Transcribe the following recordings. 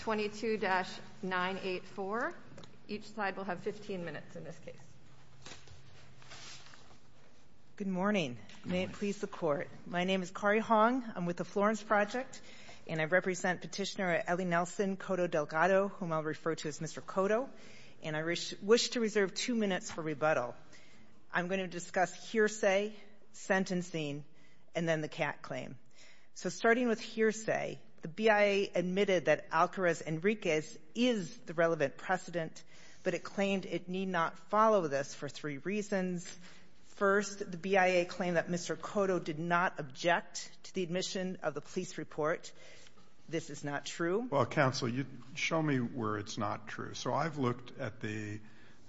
22-984. Each side will have 15 minutes in this case. Good morning. May it please the Court. My name is Kari Hong. I'm with the Florence Project and I represent Petitioner Ellie Nelson Coto Delgado, whom I'll refer to as Mr. Coto, and I wish to reserve two minutes for rebuttal. I'm here to speak on behalf of the petitioner I'm going to discuss hearsay, sentencing, and then the CAT claim. So starting with hearsay, the BIA admitted that Alcarez Enriquez is the relevant precedent, but it claimed it need not follow this for three reasons. First, the BIA claimed that Mr. Coto did not object to the admission of the police report. This is not true. Well, Counsel, show me where it's not true. So I've looked at the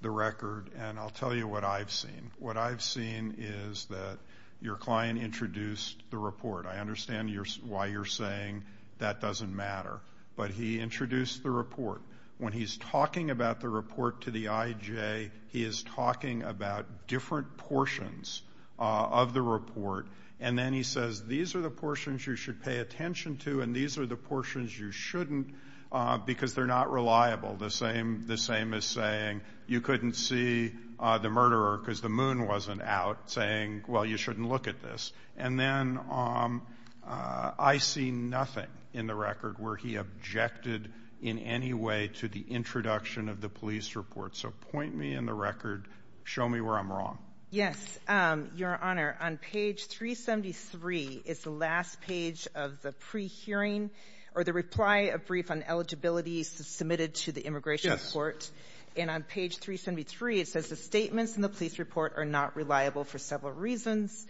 record and I'll tell you what I've seen. What I've seen is that your client introduced the report. I understand why you're saying that doesn't matter, but he introduced the report. When he's talking about the report to the IJ, he is talking about different portions of the report, and then he says, these are the portions you should pay attention to and these are the portions you shouldn't because they're not reliable. The same as saying you couldn't see the murderer because the moon wasn't out, saying, well, you shouldn't look at this. And then I see nothing in the record where he objected in any way to the introduction of the police report. So point me in the record. Show me where I'm wrong. Yes. Your Honor, on page 373 is the last page of the pre-hearing or the reply of brief on eligibility submitted to the immigration court. Yes. And on page 373, it says the statements in the police report are not reliable for several reasons,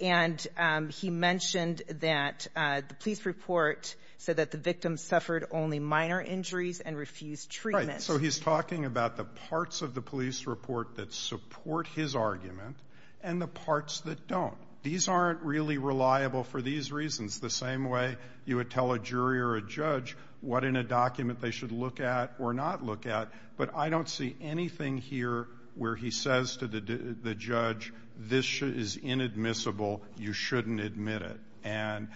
and he mentioned that the police report said that the victim suffered only minor injuries and refused treatment. So he's talking about the parts of the police report that support his argument and the parts that don't. These aren't really reliable for these reasons. The same way you would tell a jury or a judge what in a document they should look at or not look at, but I don't see anything here where he says to the judge, this is inadmissible, you shouldn't admit it. And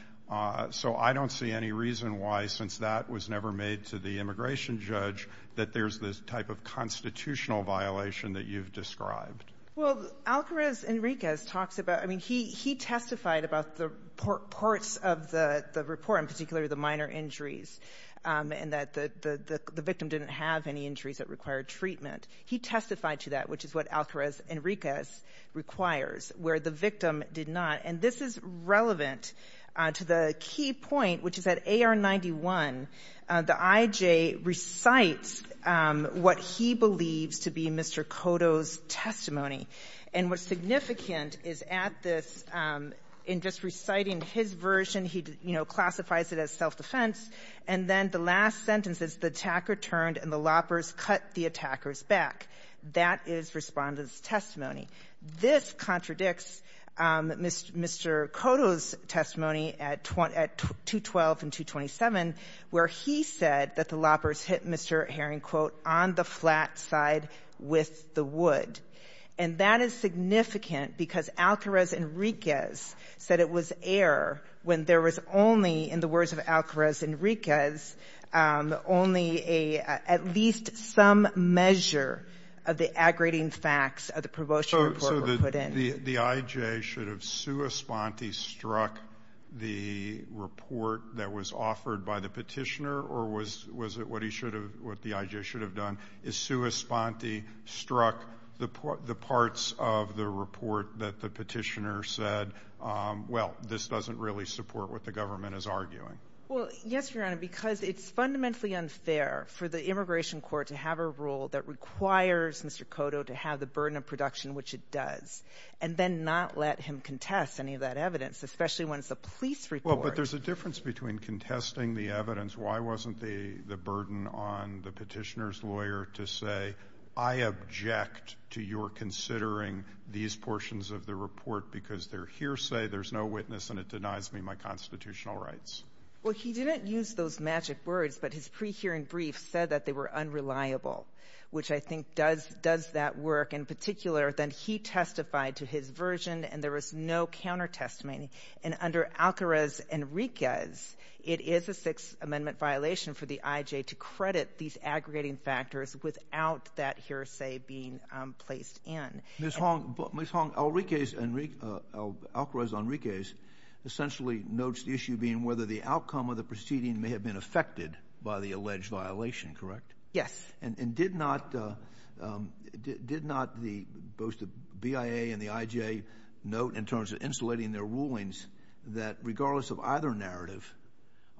so I don't see any reason why, since that was never made to the immigration judge, that there's this type of constitutional violation that you've described. Well, Alcarez-Enriquez talks about, I mean, he testified about the parts of the report, in particular the minor injuries, and that the victim didn't have any injuries that required treatment. He testified to that, which is what Alcarez-Enriquez requires, where the victim did not. And this is relevant to the key point, which is that AR-91, the I.J. recites what he believes to be Mr. Cotto's testimony. And what's significant is at this, in just reciting his version, he, you know, classifies it as self-defense, and then the last sentence is the attacker turned and the loppers cut the attackers back. That is Respondent's testimony. This contradicts Mr. Cotto's testimony at 212 and 227, where he said that the loppers hit Mr. Herring, quote, on the flat side with the wood. And that is significant because Alcarez-Enriquez said it was air when there was only, in the words of Alcarez-Enriquez, only at least some measure of the aggregating facts of the promotion report were put in. So the I.J. should have sua sponte struck the report that was offered by the petitioner, or was it what the I.J. should have done, is sua sponte struck the parts of the report that the petitioner said, well, this doesn't really support what the government is arguing? Well, yes, Your Honor, because it's fundamentally unfair for the immigration court to have a rule that requires Mr. Cotto to have the burden of production, which it does, and then not let him contest any of that evidence, especially when it's a police report. Well, but there's a difference between contesting the evidence. Why wasn't the burden on the petitioner's lawyer to say, I object to your considering these portions of the report because they're hearsay, there's no witness, and it denies me my constitutional rights? Well, he didn't use those magic words, but his pre-hearing brief said that they were unreliable, which I think does that work. In particular, then he testified to his version, and there was no counter-testimony. And under Alcarez-Enriquez, it is a Sixth Amendment violation for the I.J. to credit these aggregating factors without that hearsay being placed in. Ms. Hong, Alcarez-Enriquez essentially notes the issue being whether the outcome of the proceeding may have been affected by the alleged violation, correct? Yes. And did not both the BIA and the I.J. note in terms of insulating their rulings that regardless of either narrative,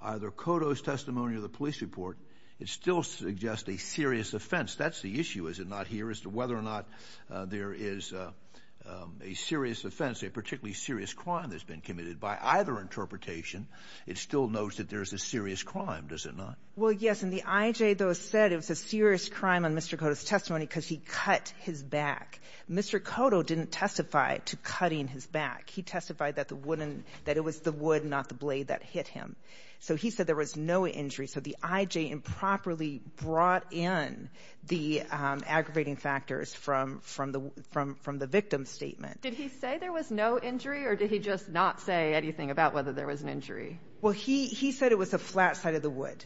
either Cotto's testimony or the police report, it still suggests a serious offense? That's the issue, is it not, here, as to whether or not there is a serious offense, a particularly serious crime that's been committed. By either interpretation, it still notes that there is a serious crime, does it not? Well, yes, and the I.J. though said it was a serious crime on Mr. Cotto's testimony because he cut his back. Mr. Cotto didn't testify to cutting his back. He testified that it was the wood, not the blade, that hit him. So he said there was no injury. So the I.J. improperly brought in the aggravating factors from the victim's statement. Did he say there was no injury, or did he just not say anything about whether there was an injury? Well, he said it was a flat side of the wood,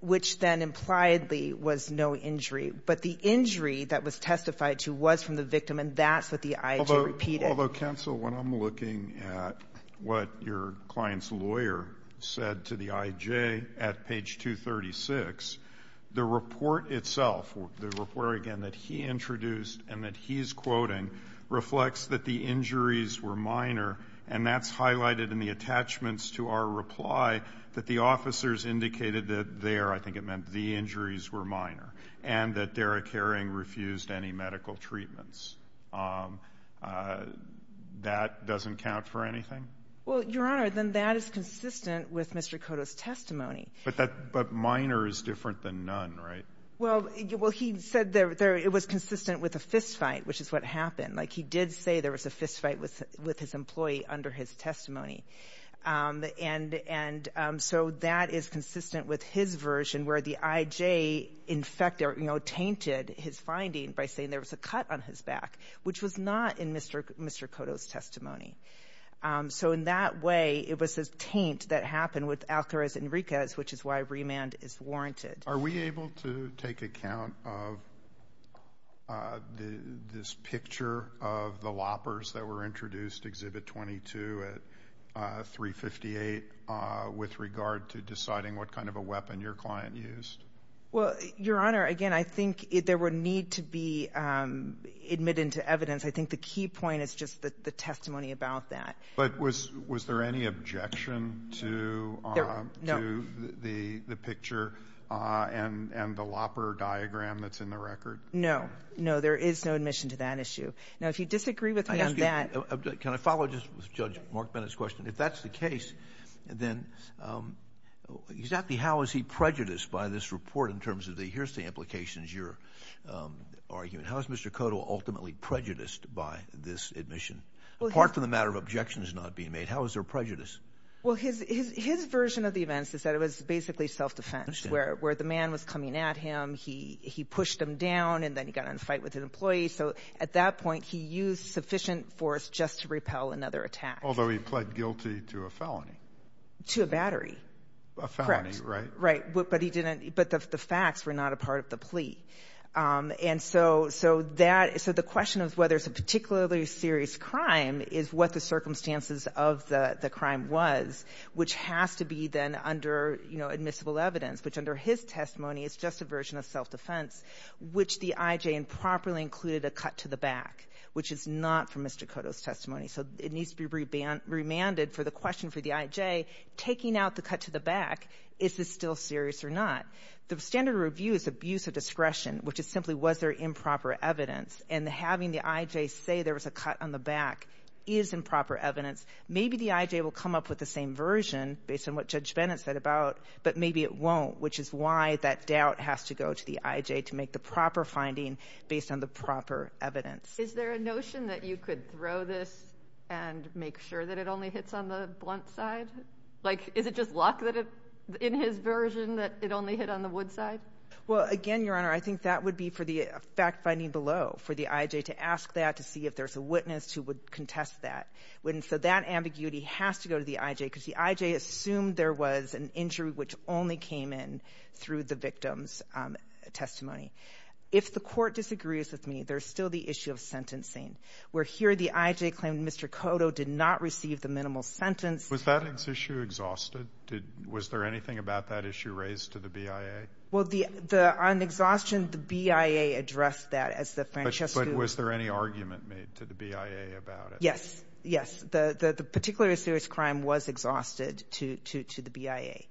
which then implied there was no injury. But the injury that was testified to was from the victim, and that's what the I.J. repeated. Although, counsel, when I'm looking at what your client's lawyer said to the I.J. at page 236, the report itself, the report, again, that he introduced and that he's quoting, reflects that the injuries were minor, and that's highlighted in the attachments to our reply that the officers indicated that there, I think it meant the injuries were minor, and that Derek Herring refused any medical treatments. That doesn't count for anything? Well, Your Honor, then that is consistent with Mr. Cotto's testimony. But minor is different than none, right? Well, he said it was consistent with a fistfight, which is what happened. Like, he did say there was a fistfight with his employee under his testimony. And so that is consistent with his version where the I.J. infected or, you know, tainted his finding by saying there was a cut on his back, which was not in Mr. Cotto's testimony. So in that way, it was a taint that happened with Alcaraz Enriquez, which is why remand is warranted. Are we able to take account of this picture of the loppers that were introduced, Exhibit 22 at 358, with regard to deciding what kind of a weapon your client used? Well, Your Honor, again, I think there would need to be admitted to evidence. I think the key point is just the testimony about that. But was there any objection to the picture? And the lopper diagram that's in the record? No. No, there is no admission to that issue. Now, if you disagree with me on that. Can I follow just with Judge Mark Bennett's question? If that's the case, then exactly how is he prejudiced by this report in terms of the here's the implications, your argument? How is Mr. Cotto ultimately prejudiced by this admission? Apart from the matter of objections not being made, how is there prejudice? Well, his version of the events is that it was basically self-defense, where the man was coming at him, he pushed him down, and then he got in a fight with an employee. So at that point he used sufficient force just to repel another attack. Although he pled guilty to a felony. To a battery. A felony, right? Correct. Right. But the facts were not a part of the plea. And so the question of whether it's a particularly serious crime is what the circumstances of the crime was, which has to be then under admissible evidence, which under his testimony is just a version of self-defense, which the IJ improperly included a cut to the back, which is not from Mr. Cotto's testimony. So it needs to be remanded for the question for the IJ, taking out the cut to the back, is this still serious or not? The standard review is abuse of discretion, which is simply was there improper evidence, and having the IJ say there was a cut on the back is improper evidence. Maybe the IJ will come up with the same version based on what Judge Bennett said about it, but maybe it won't, which is why that doubt has to go to the IJ to make the proper finding based on the proper evidence. Is there a notion that you could throw this and make sure that it only hits on the blunt side? Like, is it just luck that in his version that it only hit on the wood side? Well, again, Your Honor, I think that would be for the fact-finding below, for the IJ to ask that to see if there's a witness who would contest that. So that ambiguity has to go to the IJ because the IJ assumed there was an injury which only came in through the victim's testimony. If the Court disagrees with me, there's still the issue of sentencing, where here the IJ claimed Mr. Cotto did not receive the minimal sentence. Was that issue exhausted? Was there anything about that issue raised to the BIA? Well, on exhaustion, the BIA addressed that as the Francesco. But was there any argument made to the BIA about it? Yes, yes. The particular serious crime was exhausted to the BIA,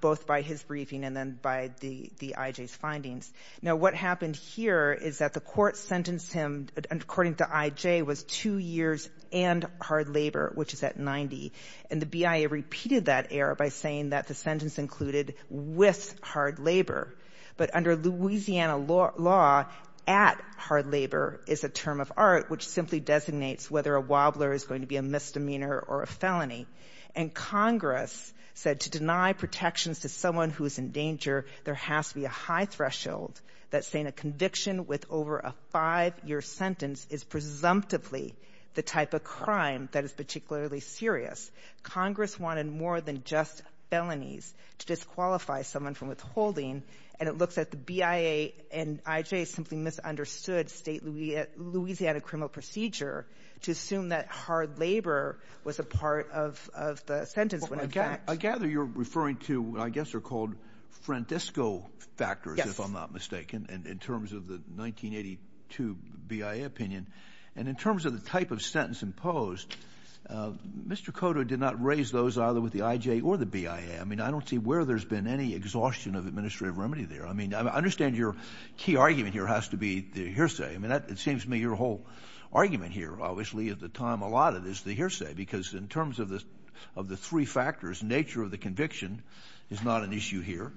both by his briefing and then by the IJ's findings. Now, what happened here is that the Court sentenced him, according to IJ, was two years and hard labor, which is at 90. And the BIA repeated that error by saying that the sentence included with hard labor. But under Louisiana law, at hard labor is a term of art which simply designates whether a wobbler is going to be a misdemeanor or a felony. And Congress said to deny protections to someone who is in danger, there has to be a high threshold that saying a conviction with over a five-year sentence is presumptively the type of crime that is particularly serious. Congress wanted more than just felonies to disqualify someone from withholding. And it looks at the BIA and IJ simply misunderstood Louisiana criminal procedure to assume that hard labor was a part of the sentence. I gather you're referring to what I guess are called Francesco factors, if I'm not mistaken, in terms of the 1982 BIA opinion. And in terms of the type of sentence imposed, Mr. Cotto did not raise those either with the IJ or the BIA. I mean, I don't see where there's been any exhaustion of administrative remedy there. I mean, I understand your key argument here has to be the hearsay. I mean, it seems to me your whole argument here obviously at the time allotted is the hearsay, because in terms of the three factors, nature of the conviction is not an issue here.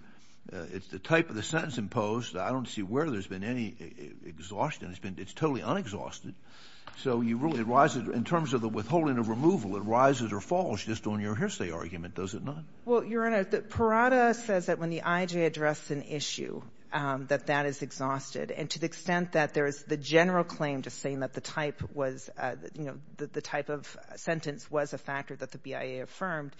It's the type of the sentence imposed. I don't see where there's been any exhaustion. It's totally unexhausted. So you really rise in terms of the withholding of removal, it rises or falls just on your hearsay argument, does it not? Well, Your Honor, Parada says that when the IJ addresses an issue, that that is exhausted. And to the extent that there is the general claim just saying that the type was, you know, that the type of sentence was a factor that the BIA affirmed,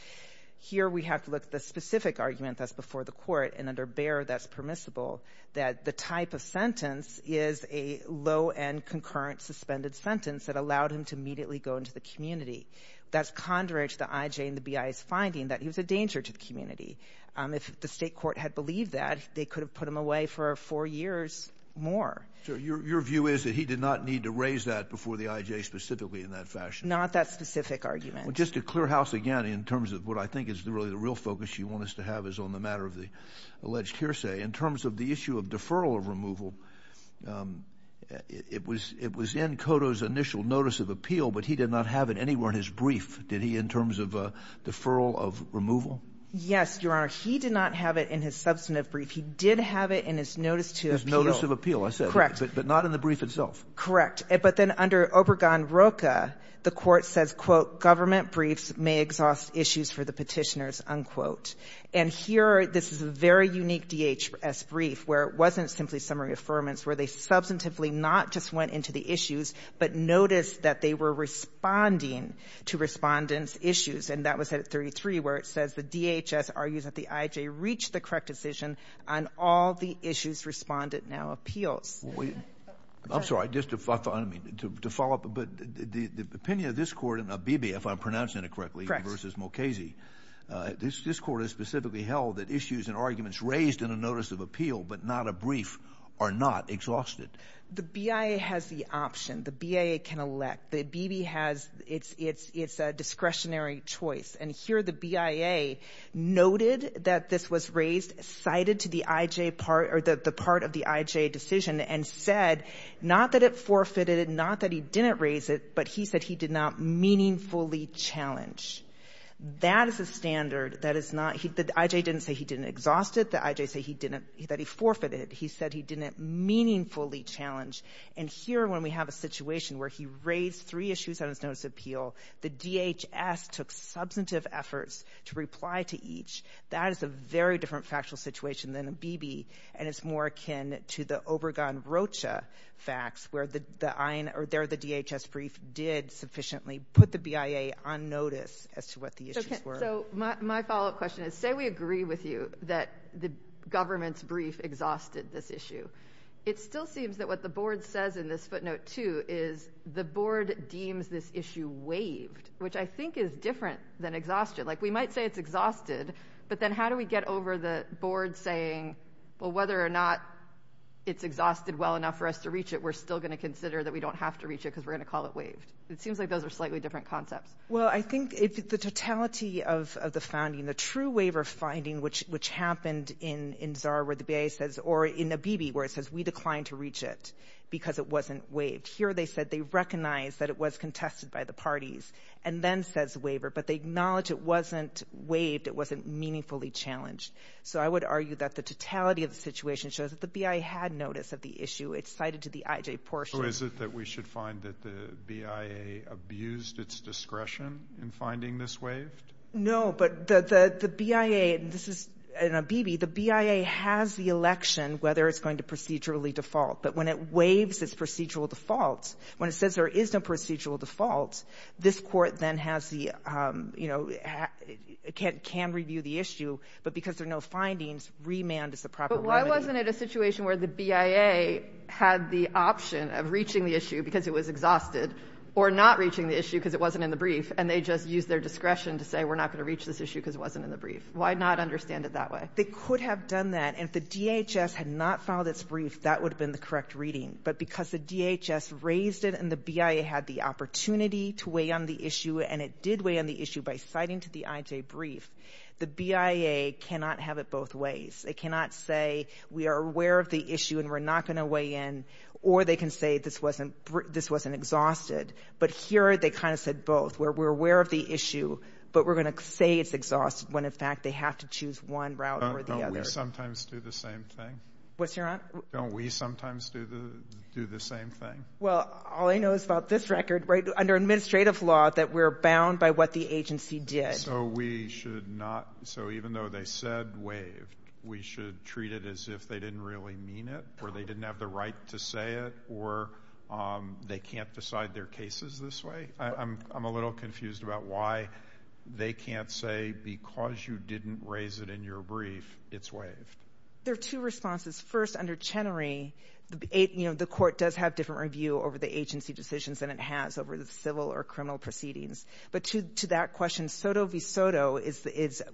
here we have to look at the specific argument that's before the court, and under Bayer that's permissible, that the type of sentence is a low-end concurrent suspended sentence that allowed him to immediately go into the community. That's contrary to the IJ and the BIA's finding that he was a danger to the community. If the state court had believed that, they could have put him away for four years more. So your view is that he did not need to raise that before the IJ specifically in that fashion? Not that specific argument. Well, just to clear house again in terms of what I think is really the real focus you want us to have is on the matter of the alleged hearsay. In terms of the issue of deferral of removal, it was in Cotto's initial notice of appeal, but he did not have it anywhere in his brief, did he, in terms of deferral of removal? Yes, Your Honor. He did not have it in his substantive brief. He did have it in his notice to appeal. His notice of appeal, I said. Correct. But not in the brief itself. Correct. But then under Obergon-Roca, the court says, quote, government briefs may exhaust issues for the petitioners, unquote. And here this is a very unique DHS brief where it wasn't simply summary affirmance, where they substantively not just went into the issues, but noticed that they were responding to respondents' issues. And that was at 33, where it says the DHS argues that the IJ reached the correct decision on all the issues respondent now appeals. I'm sorry. Just to follow up a bit, the opinion of this court in Abebe, if I'm pronouncing it correctly. Versus Mulcazy. This court has specifically held that issues and arguments raised in a notice of appeal, but not a brief, are not exhausted. The BIA has the option. The BIA can elect. Abebe has its discretionary choice. And here the BIA noted that this was raised, cited to the IJ part or the part of the IJ decision, and said not that it forfeited it, not that he didn't raise it, but he said he did not meaningfully challenge. That is a standard. The IJ didn't say he didn't exhaust it. The IJ said he forfeited it. He said he didn't meaningfully challenge. And here when we have a situation where he raised three issues on his notice of appeal, the DHS took substantive efforts to reply to each. That is a very different factual situation than Abebe. And it's more akin to the Obergon-Rocha facts where the DHS brief did sufficiently put the BIA on notice as to what the issues were. So my follow-up question is, say we agree with you that the government's brief exhausted this issue. It still seems that what the board says in this footnote, too, is the board deems this issue waived, which I think is different than exhaustion. Like we might say it's exhausted, but then how do we get over the board saying, well, whether or not it's exhausted well enough for us to reach it, we're still going to consider that we don't have to reach it because we're going to call it waived. It seems like those are slightly different concepts. Well, I think the totality of the founding, the true waiver finding, which happened in Zara where the BIA says or in Abebe where it says we declined to reach it because it wasn't waived. Here they said they recognized that it was contested by the parties and then says waiver, but they acknowledge it wasn't waived, it wasn't meaningfully challenged. So I would argue that the totality of the situation shows that the BIA had notice of the issue. It's cited to the IJ portion. So is it that we should find that the BIA abused its discretion in finding this waived? No, but the BIA, and this is in Abebe, the BIA has the election whether it's going to procedurally default. But when it waives its procedural default, when it says there is no procedural default, this Court then has the, you know, can review the issue. But because there are no findings, remand is the proper word. But why wasn't it a situation where the BIA had the option of reaching the issue because it was exhausted or not reaching the issue because it wasn't in the brief, and they just used their discretion to say we're not going to reach this issue because it wasn't in the brief? Why not understand it that way? They could have done that. And if the DHS had not filed its brief, that would have been the correct reading. But because the DHS raised it and the BIA had the opportunity to weigh on the issue, and it did weigh on the issue by citing to the IJ brief, the BIA cannot have it both ways. They cannot say we are aware of the issue and we're not going to weigh in, or they can say this wasn't exhausted. But here they kind of said both, where we're aware of the issue, but we're going to say it's exhausted when, in fact, they have to choose one route over the other. Don't we sometimes do the same thing? What's your answer? Don't we sometimes do the same thing? Well, all I know is about this record, right, under administrative law that we're bound by what the agency did. So we should not, so even though they said waived, we should treat it as if they didn't really mean it or they didn't have the right to say it or they can't decide their cases this way? I'm a little confused about why they can't say because you didn't raise it in your brief, it's waived. There are two responses. First, under Chenery, the court does have different review over the agency decisions than it has over the civil or criminal proceedings. But to that question, SOTO v. SOTO,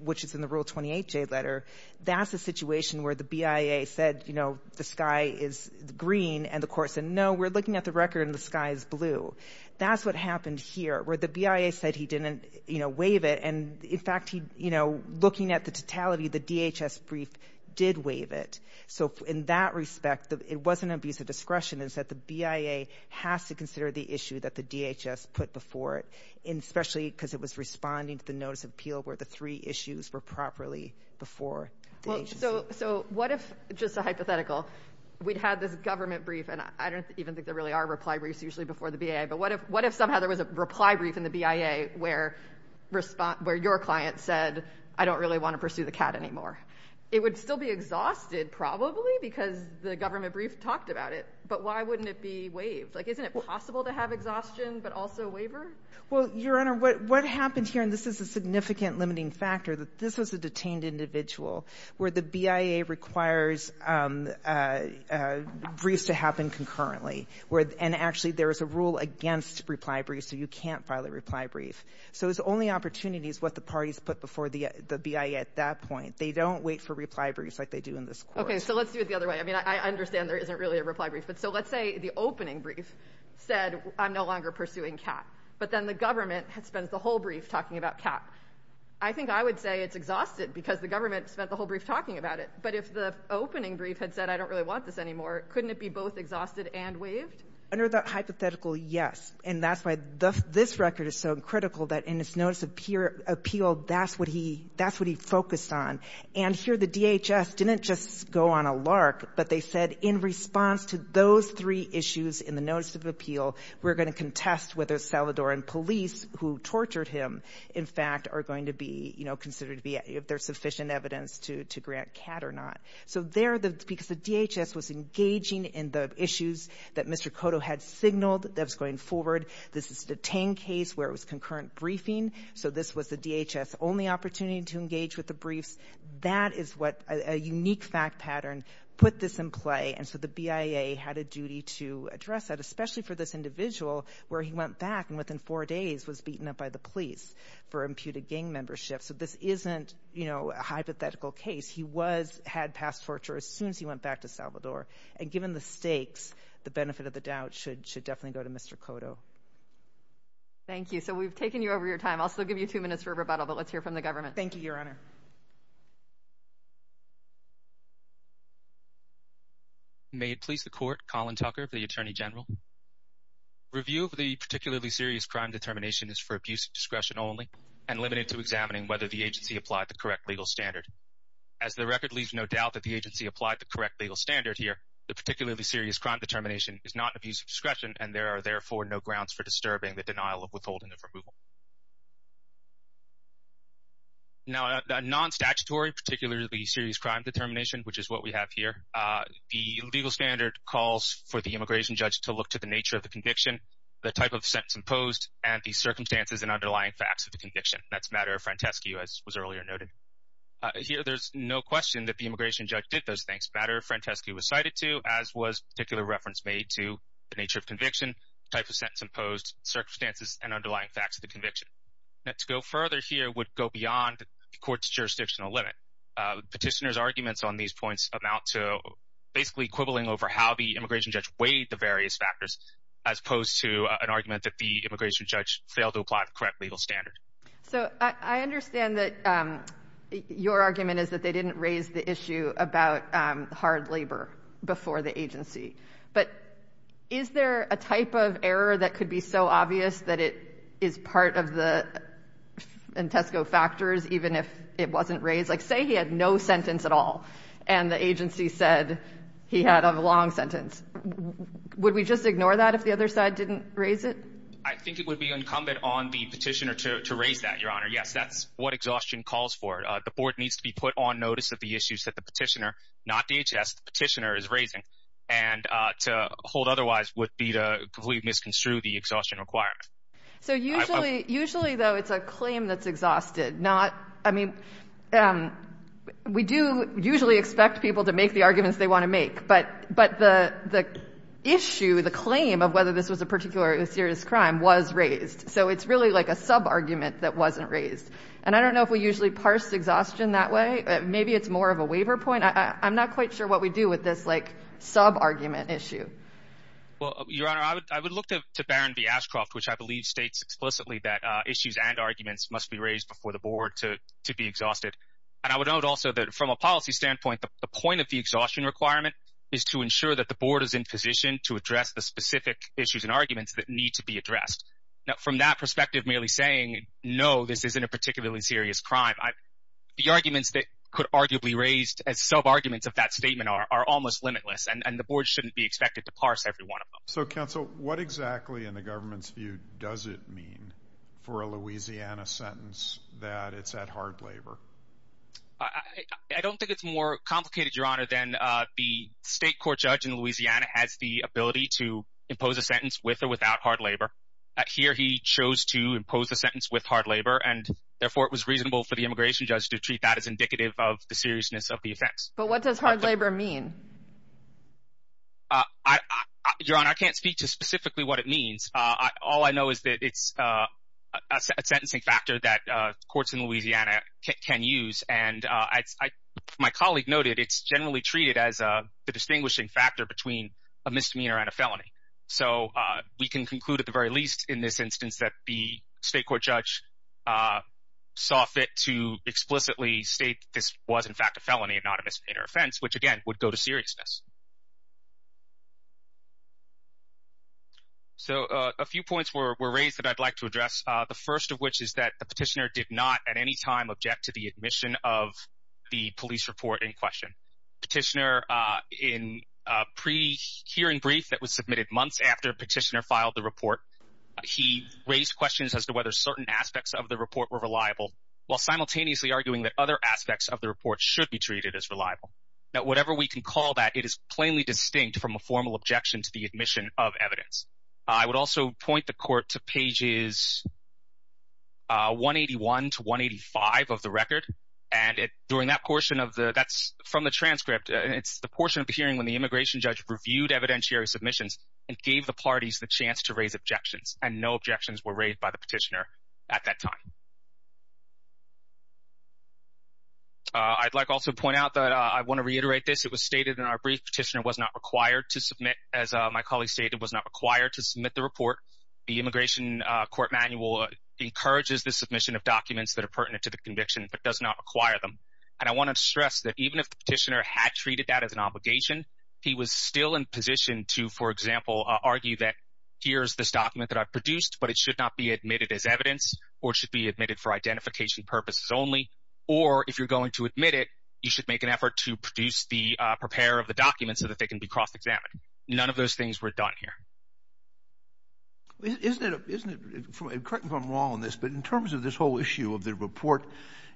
which is in the Rule 28J letter, that's a situation where the BIA said the sky is green and the court said, no, we're looking at the record and the sky is blue. That's what happened here, where the BIA said he didn't waive it, and, in fact, looking at the totality, the DHS brief did waive it. So in that respect, it wasn't abuse of discretion. It's that the BIA has to consider the issue that the DHS put before it, especially because it was responding to the notice of appeal where the three issues were properly before the agency. So what if, just a hypothetical, we'd had this government brief, and I don't even think there really are reply briefs usually before the BIA, but what if somehow there was a reply brief in the BIA where your client said, I don't really want to pursue the cat anymore? It would still be exhausted, probably, because the government brief talked about it, but why wouldn't it be waived? Like, isn't it possible to have exhaustion but also waiver? Well, Your Honor, what happens here, and this is a significant limiting factor, that this was a detained individual where the BIA requires briefs to happen concurrently and actually there is a rule against reply briefs, so you can't file a reply brief. So it's only opportunities what the parties put before the BIA at that point. They don't wait for reply briefs like they do in this court. Okay, so let's do it the other way. I mean, I understand there isn't really a reply brief, but so let's say the opening brief said, I'm no longer pursuing cat, but then the government spends the whole brief talking about cat. I think I would say it's exhausted because the government spent the whole brief talking about it, but if the opening brief had said, I don't really want this anymore, couldn't it be both exhausted and waived? Under that hypothetical, yes. And that's why this record is so critical that in its notice of appeal, that's what he focused on. And here the DHS didn't just go on a lark, but they said in response to those three issues in the notice of appeal, we're going to contest whether Salvadoran police who tortured him, in fact, are going to be considered to be sufficient evidence to grant cat or not. So there, because the DHS was engaging in the issues that Mr. Cotto had signaled that was going forward, this is the Tang case where it was concurrent briefing, so this was the DHS only opportunity to engage with the briefs. That is what a unique fact pattern put this in play, and so the BIA had a duty to address that, especially for this individual where he went back and within four days was beaten up by the police for imputed gang membership. So this isn't, you know, a hypothetical case. He had passed torture as soon as he went back to Salvador, and given the stakes, the benefit of the doubt should definitely go to Mr. Cotto. Thank you. So we've taken you over your time. I'll still give you two minutes for rebuttal, but let's hear from the government. Thank you, Your Honor. May it please the Court, Colin Tucker for the Attorney General. Review of the particularly serious crime determination is for abuse of discretion only and limited to examining whether the agency applied the correct legal standard. As the record leaves no doubt that the agency applied the correct legal standard here, the particularly serious crime determination is not abuse of discretion, and there are therefore no grounds for disturbing the denial of withholding of removal. Now, non-statutory, particularly serious crime determination, which is what we have here, the legal standard calls for the immigration judge to look to the nature of the conviction, the type of sentence imposed, and the circumstances and underlying facts of the conviction. That's matter frantesque, as was earlier noted. Here there's no question that the immigration judge did those things. Matter frantesque was cited too, as was particular reference made to the nature of conviction, type of sentence imposed, circumstances, and underlying facts of the conviction. Now, to go further here would go beyond the court's jurisdictional limit. Petitioner's arguments on these points amount to basically quibbling over how the immigration judge weighed the various factors as opposed to an argument that the immigration judge failed to apply the correct legal standard. So I understand that your argument is that they didn't raise the issue about hard labor before the agency. But is there a type of error that could be so obvious that it is part of the Intesco factors, even if it wasn't raised? Like, say he had no sentence at all, and the agency said he had a long sentence. Would we just ignore that if the other side didn't raise it? I think it would be incumbent on the petitioner to raise that, Your Honor. Yes, that's what exhaustion calls for. The board needs to be put on notice of the issues that the petitioner, not DHS, the petitioner is raising. And to hold otherwise would be to completely misconstrue the exhaustion requirement. So usually, though, it's a claim that's exhausted. I mean, we do usually expect people to make the arguments they want to make. But the issue, the claim of whether this was a particular serious crime was raised. So it's really like a sub-argument that wasn't raised. And I don't know if we usually parse exhaustion that way. Maybe it's more of a waiver point. I'm not quite sure what we do with this, like, sub-argument issue. Well, Your Honor, I would look to Barron v. Ashcroft, which I believe states explicitly that issues and arguments must be raised before the board to be exhausted. And I would note also that from a policy standpoint, the point of the exhaustion requirement is to ensure that the board is in position to address the specific issues and arguments that need to be addressed. Now, from that perspective, merely saying, no, this isn't a particularly serious crime, the arguments that could arguably be raised as sub-arguments of that statement are almost limitless. And the board shouldn't be expected to parse every one of them. So, counsel, what exactly in the government's view does it mean for a Louisiana sentence that it's at hard labor? I don't think it's more complicated, Your Honor, than the state court judge in Louisiana has the ability to impose a sentence with or without hard labor. Here he chose to impose a sentence with hard labor, and therefore it was reasonable for the immigration judge to treat that as indicative of the seriousness of the offense. But what does hard labor mean? Your Honor, I can't speak to specifically what it means. All I know is that it's a sentencing factor that courts in Louisiana can use. And as my colleague noted, it's generally treated as the distinguishing factor between a misdemeanor and a felony. So we can conclude at the very least in this instance that the state court judge saw fit to explicitly state that this was, in fact, a felony and not a misdemeanor offense, which, again, would go to seriousness. So a few points were raised that I'd like to address, the first of which is that the petitioner did not at any time object to the admission of the police report in question. Petitioner, in a pre-hearing brief that was submitted months after petitioner filed the report, he raised questions as to whether certain aspects of the report were reliable, while simultaneously arguing that other aspects of the report should be treated as reliable. Now, whatever we can call that, it is plainly distinct from a formal objection to the admission of evidence. I would also point the court to pages 181 to 185 of the record. And during that portion of the – that's from the transcript. It's the portion of the hearing when the immigration judge reviewed evidentiary submissions and gave the parties the chance to raise objections, and no objections were raised by the petitioner at that time. I'd like also to point out that I want to reiterate this. It was stated in our brief petitioner was not required to submit, as my colleague stated, was not required to submit the report. The immigration court manual encourages the submission of documents that are pertinent to the conviction but does not require them. And I want to stress that even if the petitioner had treated that as an obligation, he was still in position to, for example, argue that here's this document that I produced, but it should not be admitted as evidence, or it should be admitted for identification purposes only, or if you're going to admit it, you should make an effort to produce the – prepare the documents so that they can be cross-examined. None of those things were done here. Isn't it – correct me if I'm wrong on this, but in terms of this whole issue of the report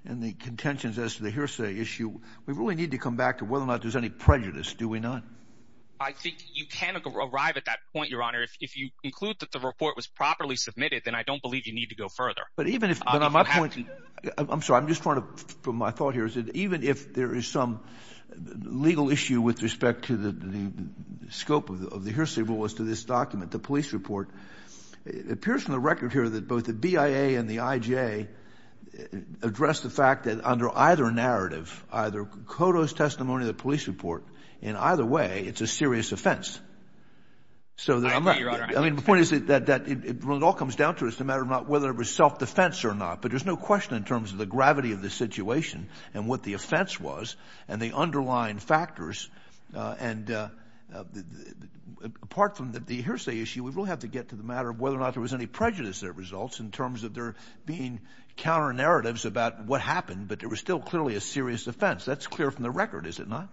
and the contentions as to the hearsay issue, we really need to come back to whether or not there's any prejudice, do we not? I think you can arrive at that point, Your Honor. If you conclude that the report was properly submitted, then I don't believe you need to go further. But even if – but on my point – I'm sorry, I'm just trying to – my thought here is that even if there is some legal issue with respect to the scope of the hearsay rule as to this document, the police report, it appears from the record here that both the BIA and the IJ address the fact that under either narrative, either CODOS testimony or the police report, in either way, it's a serious offense. I agree, Your Honor. I mean, the point is that it all comes down to is the matter of not whether it was self-defense or not, but there's no question in terms of the gravity of the situation and what the offense was and the underlying factors, and apart from the hearsay issue, we really have to get to the matter of whether or not there was any prejudice that results in terms of there being counter-narratives about what happened, but it was still clearly a serious offense. That's clear from the record, is it not?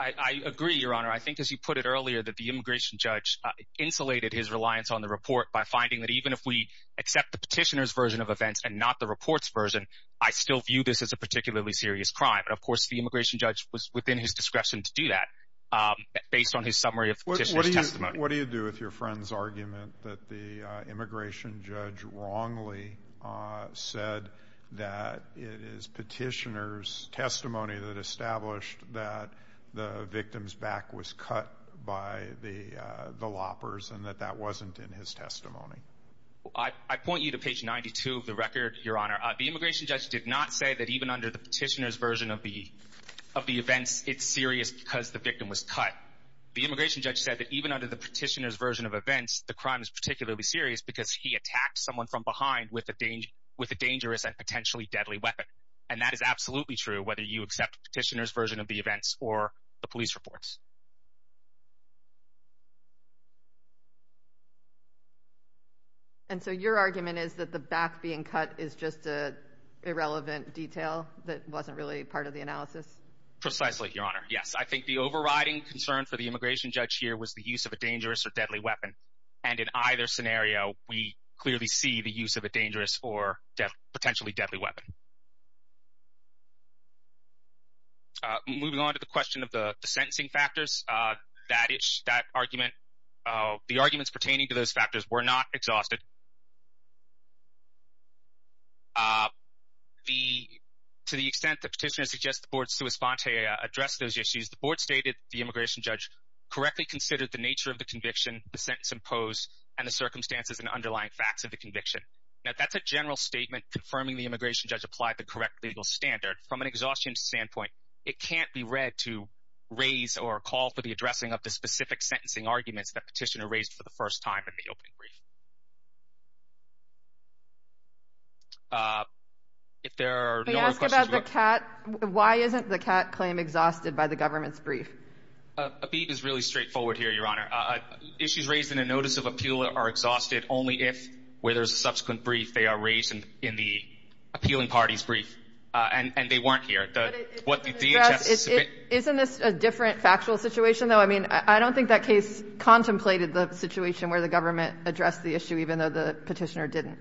I agree, Your Honor. I think, as you put it earlier, that the immigration judge insulated his reliance on the report by finding that even if we accept the petitioner's version of events and not the report's version, I still view this as a particularly serious crime. And, of course, the immigration judge was within his discretion to do that, based on his summary of the petitioner's testimony. What do you do with your friend's argument that the immigration judge wrongly said that it is petitioner's testimony that established that the victim's back was cut by the loppers and that that wasn't in his testimony? I point you to page 92 of the record, Your Honor. The immigration judge did not say that even under the petitioner's version of the events, it's serious because the victim was cut. The immigration judge said that even under the petitioner's version of events, the crime is particularly serious because he attacked someone from behind with a dangerous and potentially deadly weapon. And that is absolutely true, whether you accept the petitioner's version of the events or the police reports. And so your argument is that the back being cut is just an irrelevant detail that wasn't really part of the analysis? Precisely, Your Honor. Yes. I think the overriding concern for the immigration judge here was the use of a dangerous or deadly weapon. And in either scenario, we clearly see the use of a dangerous or potentially deadly weapon. Moving on to the question of the sentencing factors, that argument, the arguments pertaining to those factors were not exhausted. To the extent the petitioner suggests the board sui sponte address those issues, the board stated the immigration judge correctly considered the nature of the conviction, the sentence imposed, and the circumstances and underlying facts of the conviction. Now, that's a general statement confirming the immigration judge applied the correct legal standard. From an exhaustion standpoint, it can't be read to raise or call for the addressing of the specific sentencing arguments that petitioner raised for the first time in the opening brief. If there are no other questions... May I ask about the CAT? Why isn't the CAT claim exhausted by the government's brief? A beat is really straightforward here, Your Honor. Issues raised in a notice of appeal are exhausted only if, where there's a subsequent brief, they are raised in the appealing party's brief, and they weren't here. But it doesn't address... Isn't this a different factual situation, though? I mean, I don't think that case contemplated the situation where the government addressed the issue, even though the petitioner didn't.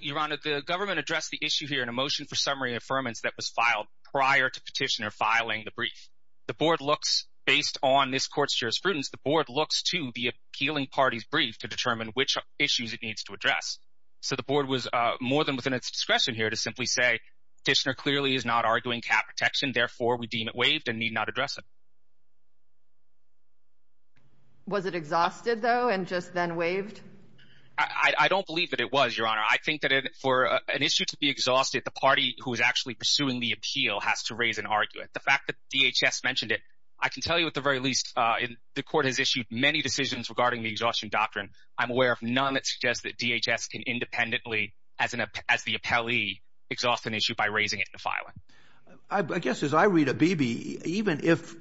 Your Honor, the government addressed the issue here in a motion for summary affirmance that was filed prior to petitioner filing the brief. The board looks, based on this court's jurisprudence, the board looks to the appealing party's brief to determine which issues it needs to address. So the board was more than within its discretion here to simply say, Petitioner clearly is not arguing CAT protection, therefore we deem it waived and need not address it. Was it exhausted, though, and just then waived? I don't believe that it was, Your Honor. I think that for an issue to be exhausted, the party who is actually pursuing the appeal has to raise an argument. The fact that DHS mentioned it, I can tell you at the very least, the court has issued many decisions regarding the exhaustion doctrine. I'm aware of none that suggests that DHS can independently, as the appellee, exhaust an issue by raising it in the filing. I guess as I read Abebe, even if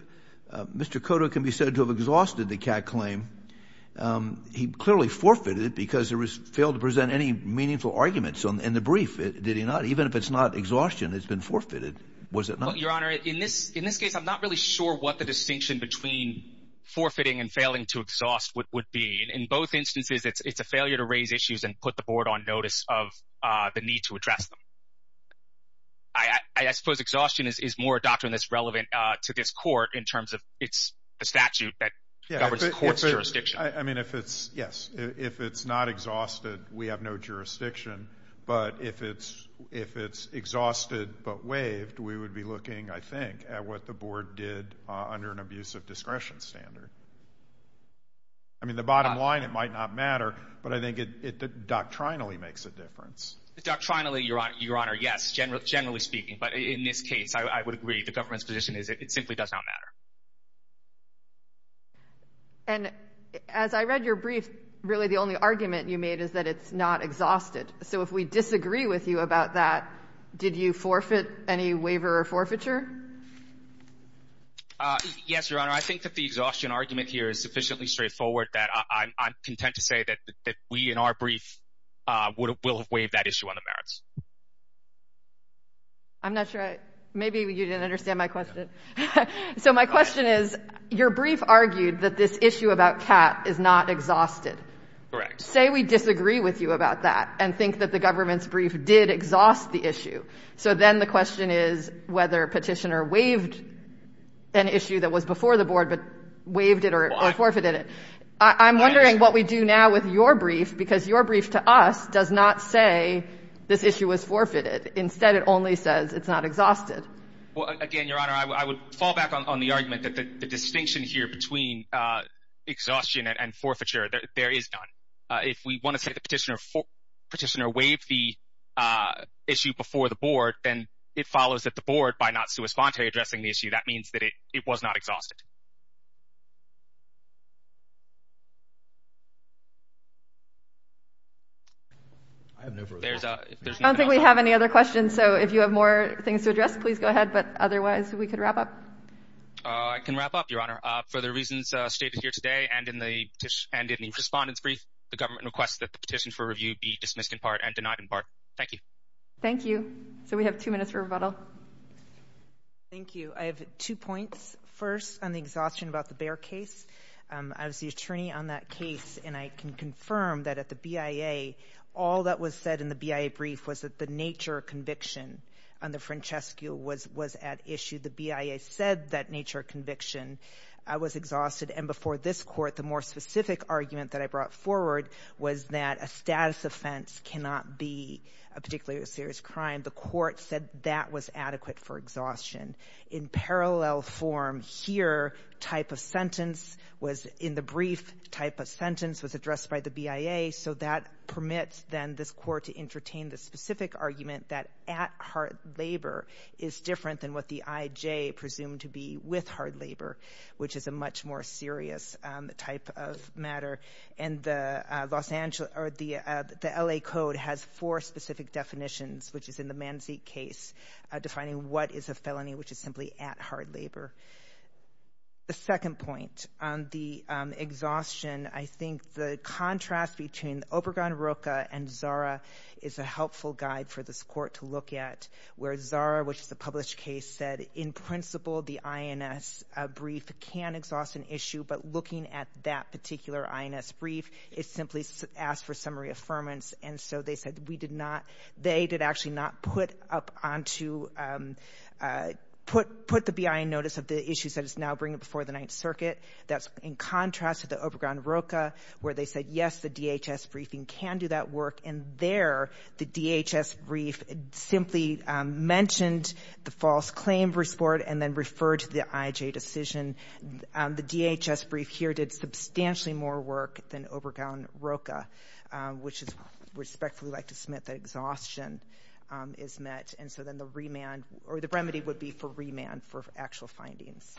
Mr. Cotto can be said to have exhausted the CAT claim, he clearly forfeited it because he failed to present any meaningful arguments in the brief, did he not? Even if it's not exhaustion, it's been forfeited, was it not? Your Honor, in this case, I'm not really sure what the distinction between forfeiting and failing to exhaust would be. In both instances, it's a failure to raise issues and put the board on notice of the need to address them. I suppose exhaustion is more a doctrine that's relevant to this court in terms of it's a statute that governs the court's jurisdiction. Yes. If it's not exhausted, we have no jurisdiction. But if it's exhausted but waived, we would be looking, I think, at what the board did under an abusive discretion standard. I mean, the bottom line, it might not matter, but I think it doctrinally makes a difference. Doctrinally, Your Honor, yes, generally speaking. But in this case, I would agree the government's position is it simply does not matter. And as I read your brief, really the only argument you made is that it's not exhausted. So if we disagree with you about that, did you forfeit any waiver or forfeiture? Yes, Your Honor, I think that the exhaustion argument here is sufficiently straightforward that I'm content to say that we in our brief will have waived that issue on the merits. I'm not sure. Maybe you didn't understand my question. So my question is, your brief argued that this issue about CAT is not exhausted. Correct. Say we disagree with you about that and think that the government's brief did exhaust the issue. So then the question is whether Petitioner waived an issue that was before the board but waived it or forfeited it. I'm wondering what we do now with your brief because your brief to us does not say this issue was forfeited. Instead, it only says it's not exhausted. Well, again, Your Honor, I would fall back on the argument that the distinction here between exhaustion and forfeiture, there is none. If we want to say that Petitioner waived the issue before the board, then it follows that the board, by not sui sponte addressing the issue, that means that it was not exhausted. I have no further questions. I don't think we have any other questions. So if you have more things to address, please go ahead. But otherwise, we could wrap up. I can wrap up, Your Honor. For the reasons stated here today and in the Respondents' Brief, the government requests that the petition for review be dismissed in part and denied in part. Thank you. Thank you. So we have two minutes for rebuttal. Thank you. I have two points. First, on the exhaustion about the Behr case. I was the attorney on that case, and I can confirm that at the BIA, all that was said in the BIA brief was that the nature of conviction under Francescu was at issue. The BIA said that nature of conviction was exhausted, and before this court, the more specific argument that I brought forward was that a status offense cannot be a particularly serious crime. The court said that was adequate for exhaustion. In parallel form here, type of sentence was in the brief, type of sentence was addressed by the BIA, so that permits then this court to entertain the specific argument that at-heart labor is different than what the IJ presumed to be with hard labor, which is a much more serious type of matter. And the LA Code has four specific definitions, which is in the Manzik case, defining what is a felony, which is simply at-heart labor. The second point, on the exhaustion, I think the contrast between Obergon-Roca and Zara is a helpful guide for this court to look at, where Zara, which is a published case, said in principle the INS brief can exhaust an issue, but looking at that particular INS brief, it simply asks for summary affirmance. And so they said we did not — they did actually not put up onto — put the BIA in notice of the issues that it's now bringing before the Ninth Circuit. That's in contrast to the Obergon-Roca, where they said, yes, the DHS briefing can do that work, and there the DHS brief simply mentioned the false claim report and then referred to the IJ decision. The DHS brief here did substantially more work than Obergon-Roca, which is respectfully like to submit that exhaustion is met. And so then the remand — or the remedy would be for remand for actual findings.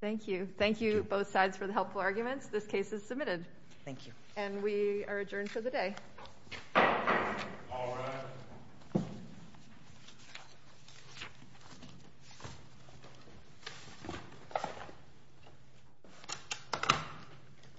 Thank you. Thank you, both sides, for the helpful arguments. This case is submitted. Thank you. And we are adjourned for the day. All rise.